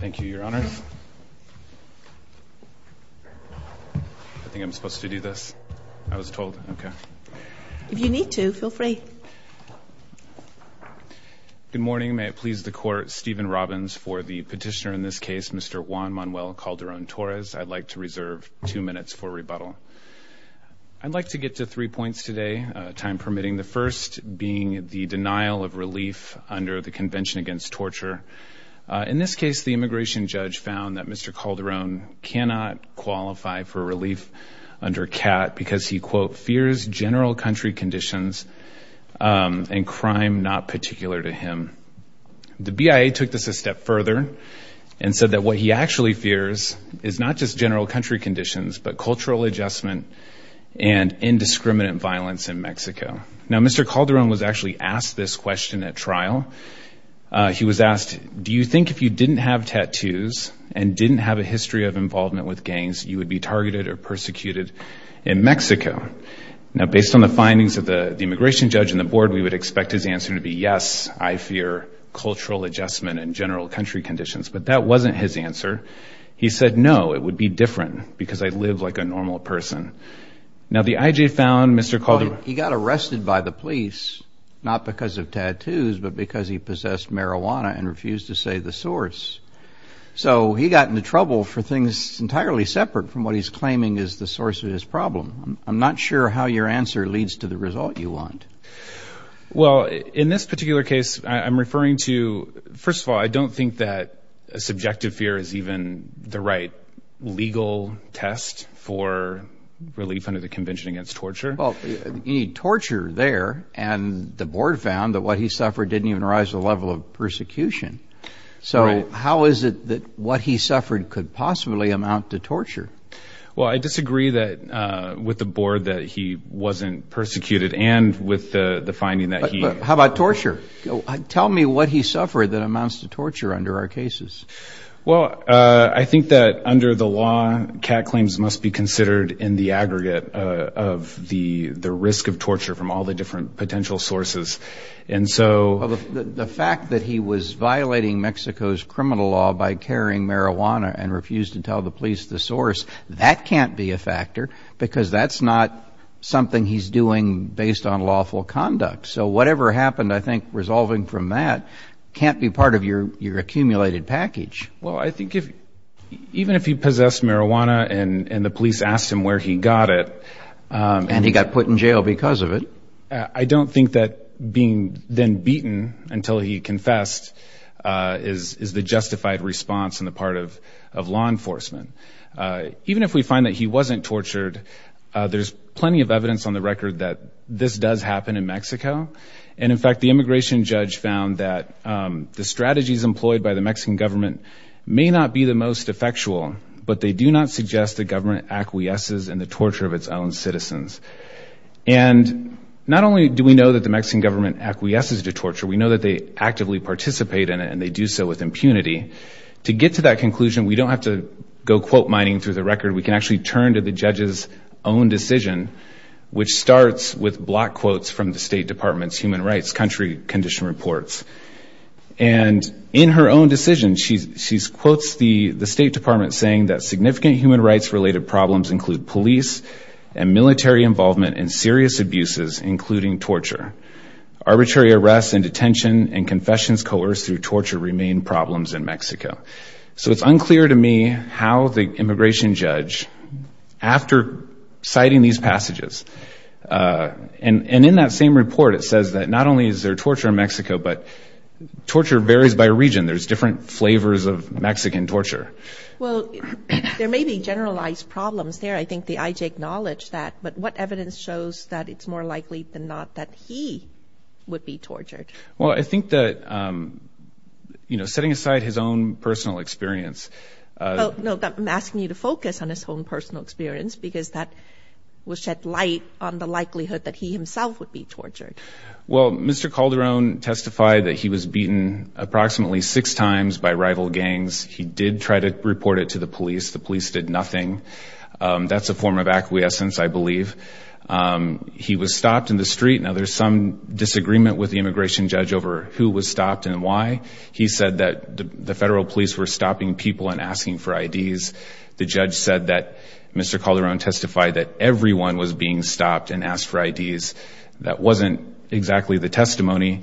Thank you, your honor. I think I'm supposed to do this. I was told. Okay. If you need to, feel free. Good morning. May it please the court, Stephen Robbins for the petitioner in this case, Mr. Juan Manuel Calderon-Torres. I'd like to reserve two minutes for rebuttal. I'd like to get to three points today, time permitting. The first being the denial of relief under the Convention Against Torture. In this case, the immigration judge found that Mr. Calderon cannot qualify for relief under CAT because he, quote, fears general country conditions and crime not particular to him. The BIA took this a step further and said that what he actually fears is not just general country conditions, but cultural adjustment and indiscriminate violence in Mexico. Now, Mr. Calderon was actually asked this question at trial. He was asked, do you think if you didn't have tattoos and didn't have a history of involvement with gangs, you would be targeted or persecuted in Mexico? Now, based on the findings of the immigration judge and the board, we would expect his answer to be, yes, I fear cultural adjustment and general country conditions. But that wasn't his answer. He said, no, it would be different because I live like a normal person. Now, the IJ found Mr. Calderon- Well, in this particular case, I'm referring to, first of all, I don't think that a subjective fear is even the right legal test for relief under the Convention Against Torture. Well, you need torture there. And the board found that what he suffered didn't even rise to the level of torture that he was supposed to suffer. Well, I disagree that with the board that he wasn't persecuted and with the finding that he- How about torture? Tell me what he suffered that amounts to torture under our cases. Well, I think that under the law, CAT claims must be considered in the aggregate of the risk of torture from all the different potential sources. And so- Well, the fact that he was violating Mexico's criminal law by carrying marijuana and refused to tell the police the source, that can't be a factor because that's not something he's doing based on lawful conduct. So whatever happened, I think resolving from that can't be part of your accumulated package. Well, I think if even if he possessed marijuana and the police asked him where he got it- And he got put in jail because of it. I don't think that being then beaten until he confessed is the justified response on the part of law enforcement. Even if we find that he wasn't tortured, there's plenty of evidence on the record that this does happen in Mexico. And in fact, the immigration judge found that the strategies employed by the Mexican government may not be the most effectual, but they do not suggest the government acquiesces in the torture of its own citizens. And not only do we know that the Mexican government acquiesces to torture, we know that they actively participate in it and they do so with impunity. To get to that conclusion, we don't have to go quote mining through the record. We can actually turn to the judge's own decision, which starts with block quotes from the State Department's human rights country condition reports. And in her own decision, she quotes the State Department saying that significant human rights related problems include police and military involvement and serious abuses, including torture. Arbitrary arrests and detention and confessions coerced through torture remain problems in Mexico. So it's unclear to me how the immigration judge, after citing these passages and in that same report, it says that not only is there torture in Mexico, but torture varies by region. There's different flavors of Mexican torture. Well, there may be generalized problems there. I think the IJ acknowledged that. But what evidence shows that it's more likely than not that he would be tortured? Well, I think that, you know, setting aside his own personal experience. No, I'm asking you to focus on his own personal experience, because that will shed light on the likelihood that he himself would be tortured. Well, Mr. Calderon testified that he was beaten approximately six times by rival gangs. He did try to report it to the police. The police did nothing. That's a form of acquiescence, I believe. He was stopped in the street. Now, there's some disagreement with the immigration judge over who was stopped and why. He said that the federal police were stopping people and asking for IDs. The judge said that Mr. Calderon testified that everyone was being stopped and asked for IDs. That wasn't exactly the testimony.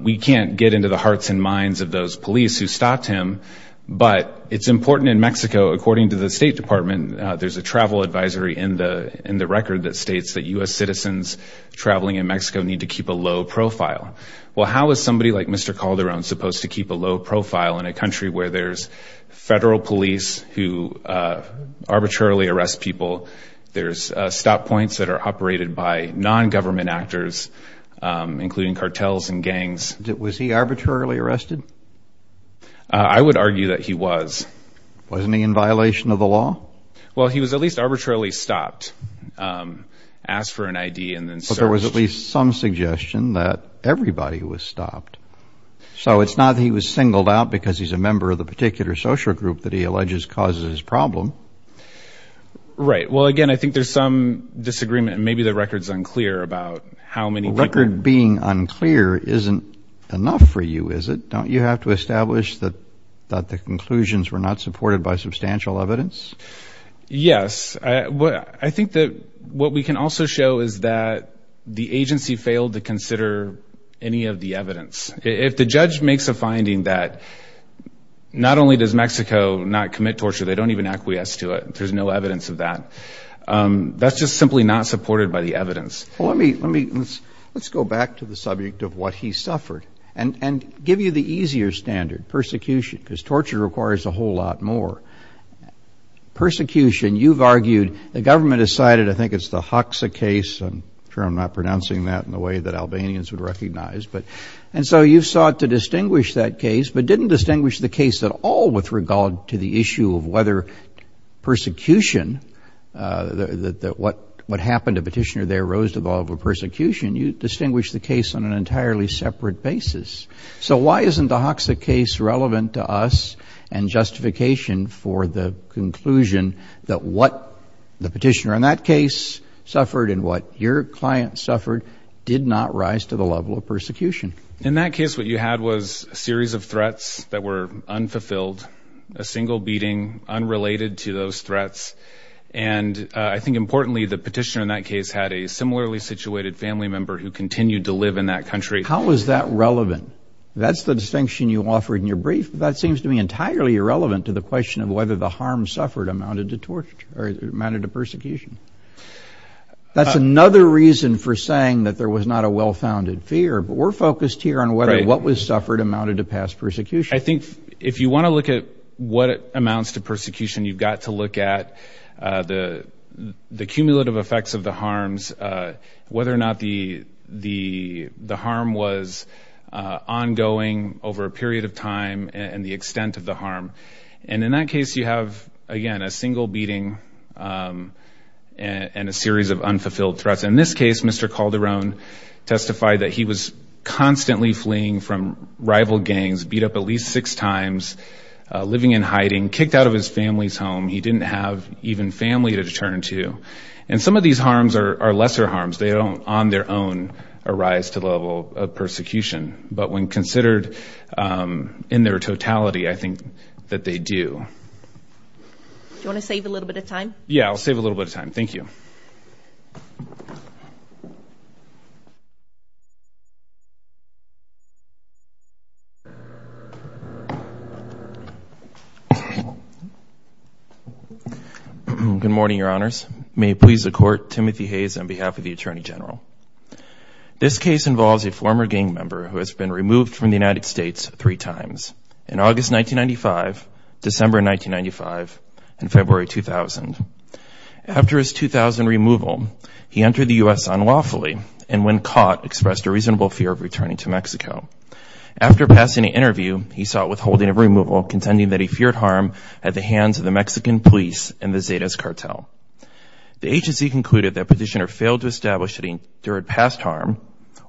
We can't get into the hearts and minds of those police who stopped him. But it's important in Mexico, according to the State Department, there's a travel advisory in the record that states that U.S. citizens traveling in Mexico need to keep a low profile. Well, how is somebody like Mr. Calderon supposed to keep a low profile in a country where there's federal police who arbitrarily arrest people? There's stop points that are operated by non-government actors, including cartels and gangs. Was he arbitrarily arrested? I would argue that he was. Wasn't he in violation of the law? Well, he was at least arbitrarily stopped, asked for an ID and then searched. There was at least some suggestion that everybody was stopped. So it's not that he was singled out because he's a member of the particular social group that he alleges causes his problem. Right. Well, again, I think there's some disagreement and maybe the record's unclear about how many record being unclear isn't enough for you, is it? Don't you have to establish that that the conclusions were not supported by substantial evidence? Yes, I think that what we can also show is that the agency failed to consider any of the evidence. If the judge makes a finding that not only does Mexico not commit torture, they don't even acquiesce to it. There's no evidence of that. That's just simply not supported by the evidence. Well, let me let me let's go back to the subject of what he suffered and give you the easier standard persecution because torture requires a whole lot more. Persecution, you've argued the government decided, I think it's the Hoxha case. I'm sure I'm not pronouncing that in the way that Albanians would recognize. But and so you've sought to distinguish that case, but didn't distinguish the case at all with regard to the issue of whether persecution that what what happened to petitioner there rose to the level of persecution. You distinguish the case on an entirely separate basis. So why isn't the Hoxha case relevant to us and justification for the conclusion that what the petitioner in that case suffered and what your client suffered did not rise to the level of persecution? In that case, what you had was a series of threats that were unfulfilled, a single beating unrelated to those threats. And I think importantly, the petitioner in that case had a similarly situated family member who continued to live in that country. How is that relevant? That's the distinction you offered in your brief. That seems to me entirely irrelevant to the question of whether the harm suffered amounted to torture or amounted to persecution. That's another reason for saying that there was not a well-founded fear. But we're focused here on whether what was suffered amounted to past persecution. I think if you want to look at what amounts to persecution, you've got to look at the the cumulative effects of the harms, whether or not the the the harm was ongoing over a period of time and the extent of the harm. And in that case, you have, again, a single beating and a series of unfulfilled threats. In this case, Mr. Calderon testified that he was constantly fleeing from rival gangs, beat up at least six times, living in hiding, kicked out of his family's home. He didn't have even family to turn to. And some of these harms are lesser harms. They don't on their own arise to the level of persecution. But when considered in their totality, I think that they do. Do you want to save a little bit of time? Yeah, I'll save a little bit of time. Thank you. Good morning, Your Honors. May it please the Court, Timothy Hayes on behalf of the Attorney General. This case involves a former gang member who has been removed from the United States three times, in August 1995, December 1995, and February 2000. After his 2000 removal, he entered the U.S. unlawfully and when caught, expressed a reasonable fear of returning to Mexico. After passing an interview, he sought withholding of removal, contending that he feared harm at the hands of the Mexican police and the Zetas cartel. The agency concluded that petitioner failed to establish that he endured past harm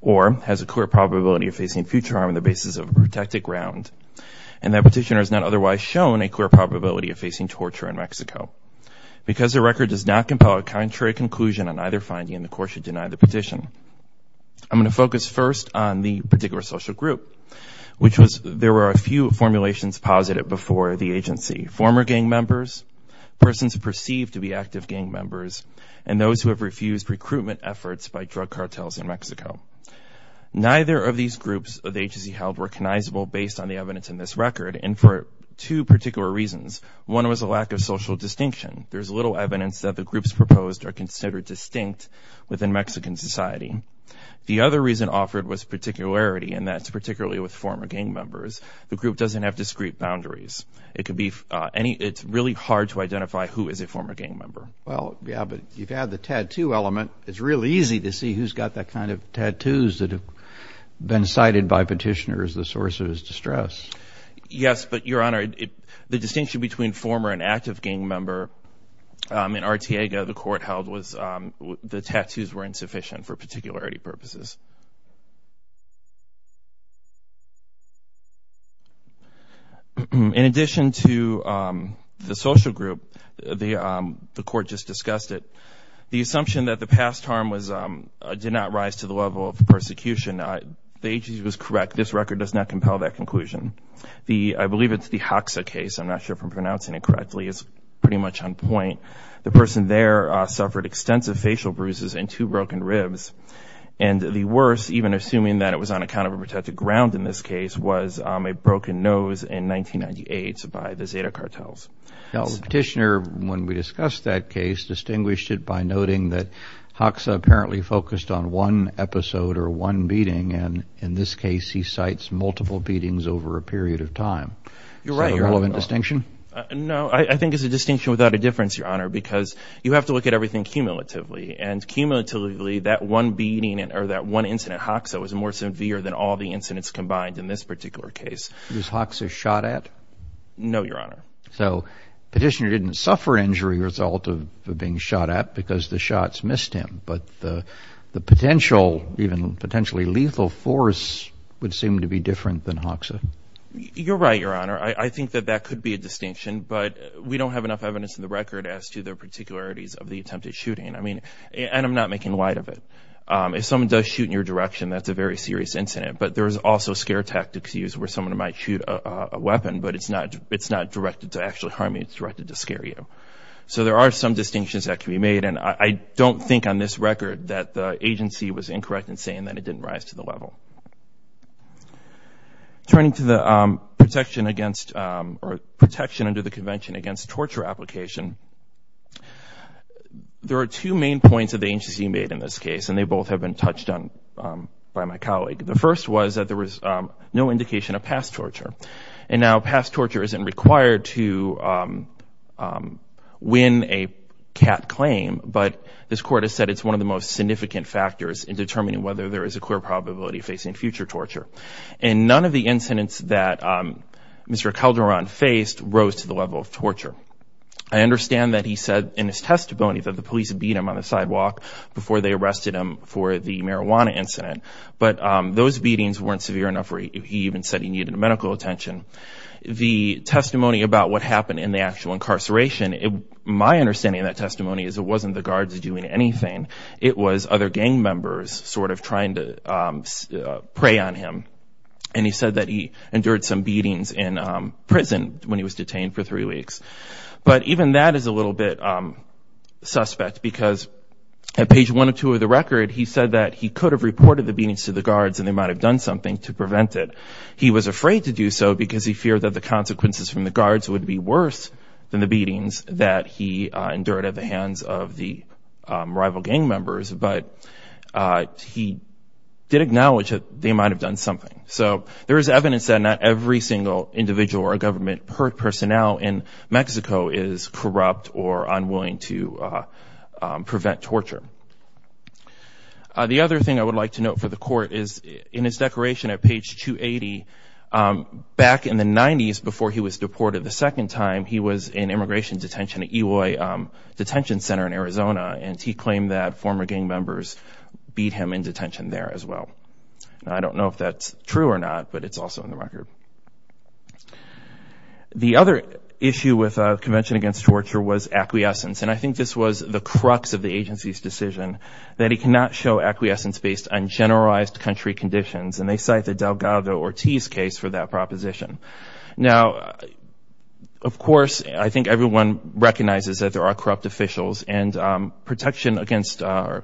or has a clear probability of facing future harm on the basis of protected ground. And that petitioner has not otherwise shown a clear probability of facing torture in Mexico. Because the record does not compel a contrary conclusion on either finding, the Court should deny the petition. I'm going to focus first on the particular social group, which was, there were a few formulations posited before the agency. Former gang members, persons perceived to be active gang members, and those who have refused recruitment efforts by drug cartels in Mexico. Neither of these groups the agency held recognizable based on the evidence in this record, and for two particular reasons. One was a lack of social distinction. There's little evidence that the groups proposed are considered distinct within Mexican society. The other reason offered was particularity, and that's particularly with former gang members. The group doesn't have discrete boundaries. It could be any, it's really hard to identify who is a former gang member. Well, yeah, but you've had the tattoo element. It's really easy to see who's got that kind of tattoos that have been cited by petitioners as the source of his distress. Yes, but Your Honor, the distinction between former and active gang member in Artiega, the court held was the tattoos were insufficient for particularity purposes. In addition to the social group, the court just discussed it. The assumption that the past harm did not rise to the level of persecution, the agency was correct. This record does not compel that conclusion. I believe it's the Hoxa case. I'm not sure if I'm pronouncing it correctly. It's pretty much on point. The person there suffered extensive facial bruises and two broken ribs. And the worst, even assuming that it was on account of a protected ground in this case, was a broken nose in 1998 by the Zeta cartels. Now, the petitioner, when we discussed that case, distinguished it by noting that Hoxa apparently focused on one episode or one beating. And in this case, he cites multiple beatings over a period of time. You're right, Your Honor. Is that a relevant distinction? No, I think it's a distinction without a difference, Your Honor, because you have to look at everything cumulatively. And cumulatively, that one beating or that one incident, Hoxa, was more severe than all the incidents combined in this particular case. Was Hoxa shot at? No, Your Honor. So petitioner didn't suffer injury as a result of being shot at because the shots missed him. But the potential, even potentially lethal force, would seem to be different than Hoxa. You're right, Your Honor. I think that that could be a distinction. But we don't have enough evidence in the record as to the particularities of the attempted shooting. I mean, and I'm not making light of it. If someone does shoot in your direction, that's a very serious incident. But there's also scare tactics used where someone might shoot a weapon, but it's not directed to actually harm you. It's directed to scare you. So there are some distinctions that can be made. And I don't think on this record that the agency was incorrect in saying that it didn't rise to the level. Turning to the protection against, or protection under the Convention Against Torture Application, there are two main points that the agency made in this case. And they both have been touched on by my colleague. The first was that there was no indication of past torture. And now, past torture isn't required to win a cat claim. But this Court has said it's one of the most significant factors in determining whether there is a clear probability of facing future torture. And none of the incidents that Mr. Calderon faced rose to the level of torture. I understand that he said in his testimony that the police beat him on the sidewalk before they arrested him for the marijuana incident. But those beatings weren't severe enough where he even said he needed medical attention. The testimony about what happened in the actual incarceration, my understanding of that testimony is it wasn't the guards doing anything. It was other gang members sort of trying to prey on him. And he said that he endured some beatings in prison when he was detained for three weeks. But even that is a little bit suspect because at page one or two of the record, he said that he could have reported the beatings to the guards and they might have done something to prevent it. He was afraid to do so because he feared that the consequences from the guards would be worse than the beatings that he endured at the hands of the rival gang members. But he did acknowledge that they might have done something. So there is evidence that not every single individual or government personnel in Mexico is corrupt or unwilling to prevent torture. The other thing I would like to note for the court is in his declaration at page 280, back in the 90s before he was deported the second time, he was in immigration detention at Eloy Detention Center in Arizona. And he claimed that former gang members beat him in detention there as well. I don't know if that's true or not, but it's also in the record. The other issue with Convention Against Torture was acquiescence. And I think this was the crux of the agency's decision, that he cannot show acquiescence based on generalized country conditions. And they cite the Delgado-Ortiz case for that proposition. Now, of course, I think everyone recognizes that there are corrupt officials and protection under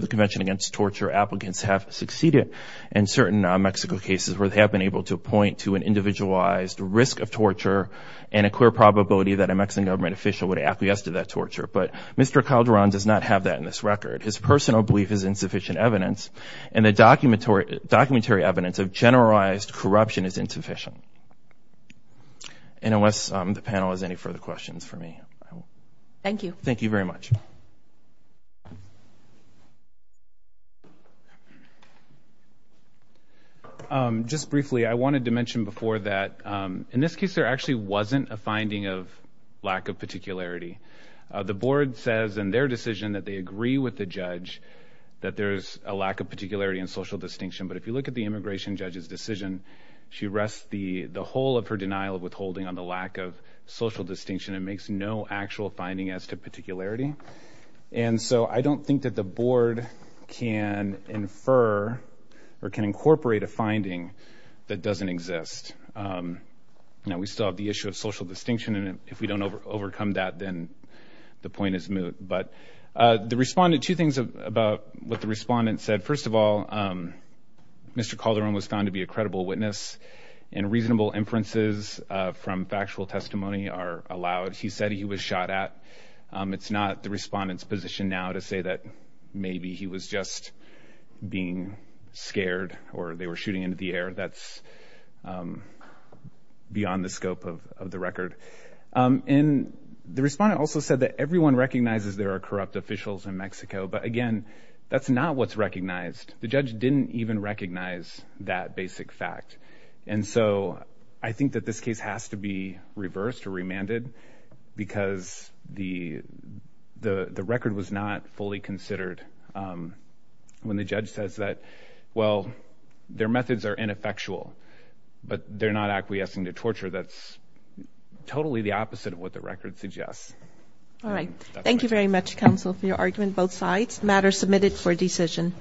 the Convention Against Torture applicants have succeeded in certain Mexico cases where they have been able to point to an individualized risk of torture and a clear probability that a Mexican government official would acquiesce to that torture. But Mr. Calderon does not have that in this record. His personal belief is insufficient evidence. And the documentary evidence of generalized corruption is insufficient. And unless the panel has any further questions for me. Thank you. Thank you very much. Just briefly, I wanted to mention before that, in this case, there actually wasn't a finding of lack of particularity. The board says in their decision that they agree with the judge that there's a lack of particularity and social distinction. But if you look at the immigration judge's decision, she rests the whole of her denial of withholding on the lack of social distinction and makes no actual finding as to particularity. And so I don't think that the board can infer or can incorporate a finding that doesn't exist. Now, we still have the issue of social distinction. And if we don't overcome that, then the point is moot. But the respondent, two things about what the respondent said. First of all, Mr. Calderon was found to be a credible witness. And reasonable inferences from factual testimony are allowed. He said he was shot at. It's not the respondent's position now to say that maybe he was just being scared or they were shooting into the air. That's beyond the scope of the record. And the respondent also said that everyone recognizes there are corrupt officials in Mexico. But again, that's not what's recognized. The judge didn't even recognize that basic fact. And so I think that this case has to be reversed or remanded because the record was not fully considered. And when the judge says that, well, their methods are ineffectual, but they're not acquiescing to torture, that's totally the opposite of what the record suggests. All right. Thank you very much, counsel, for your argument. Both sides. Matter submitted for decision.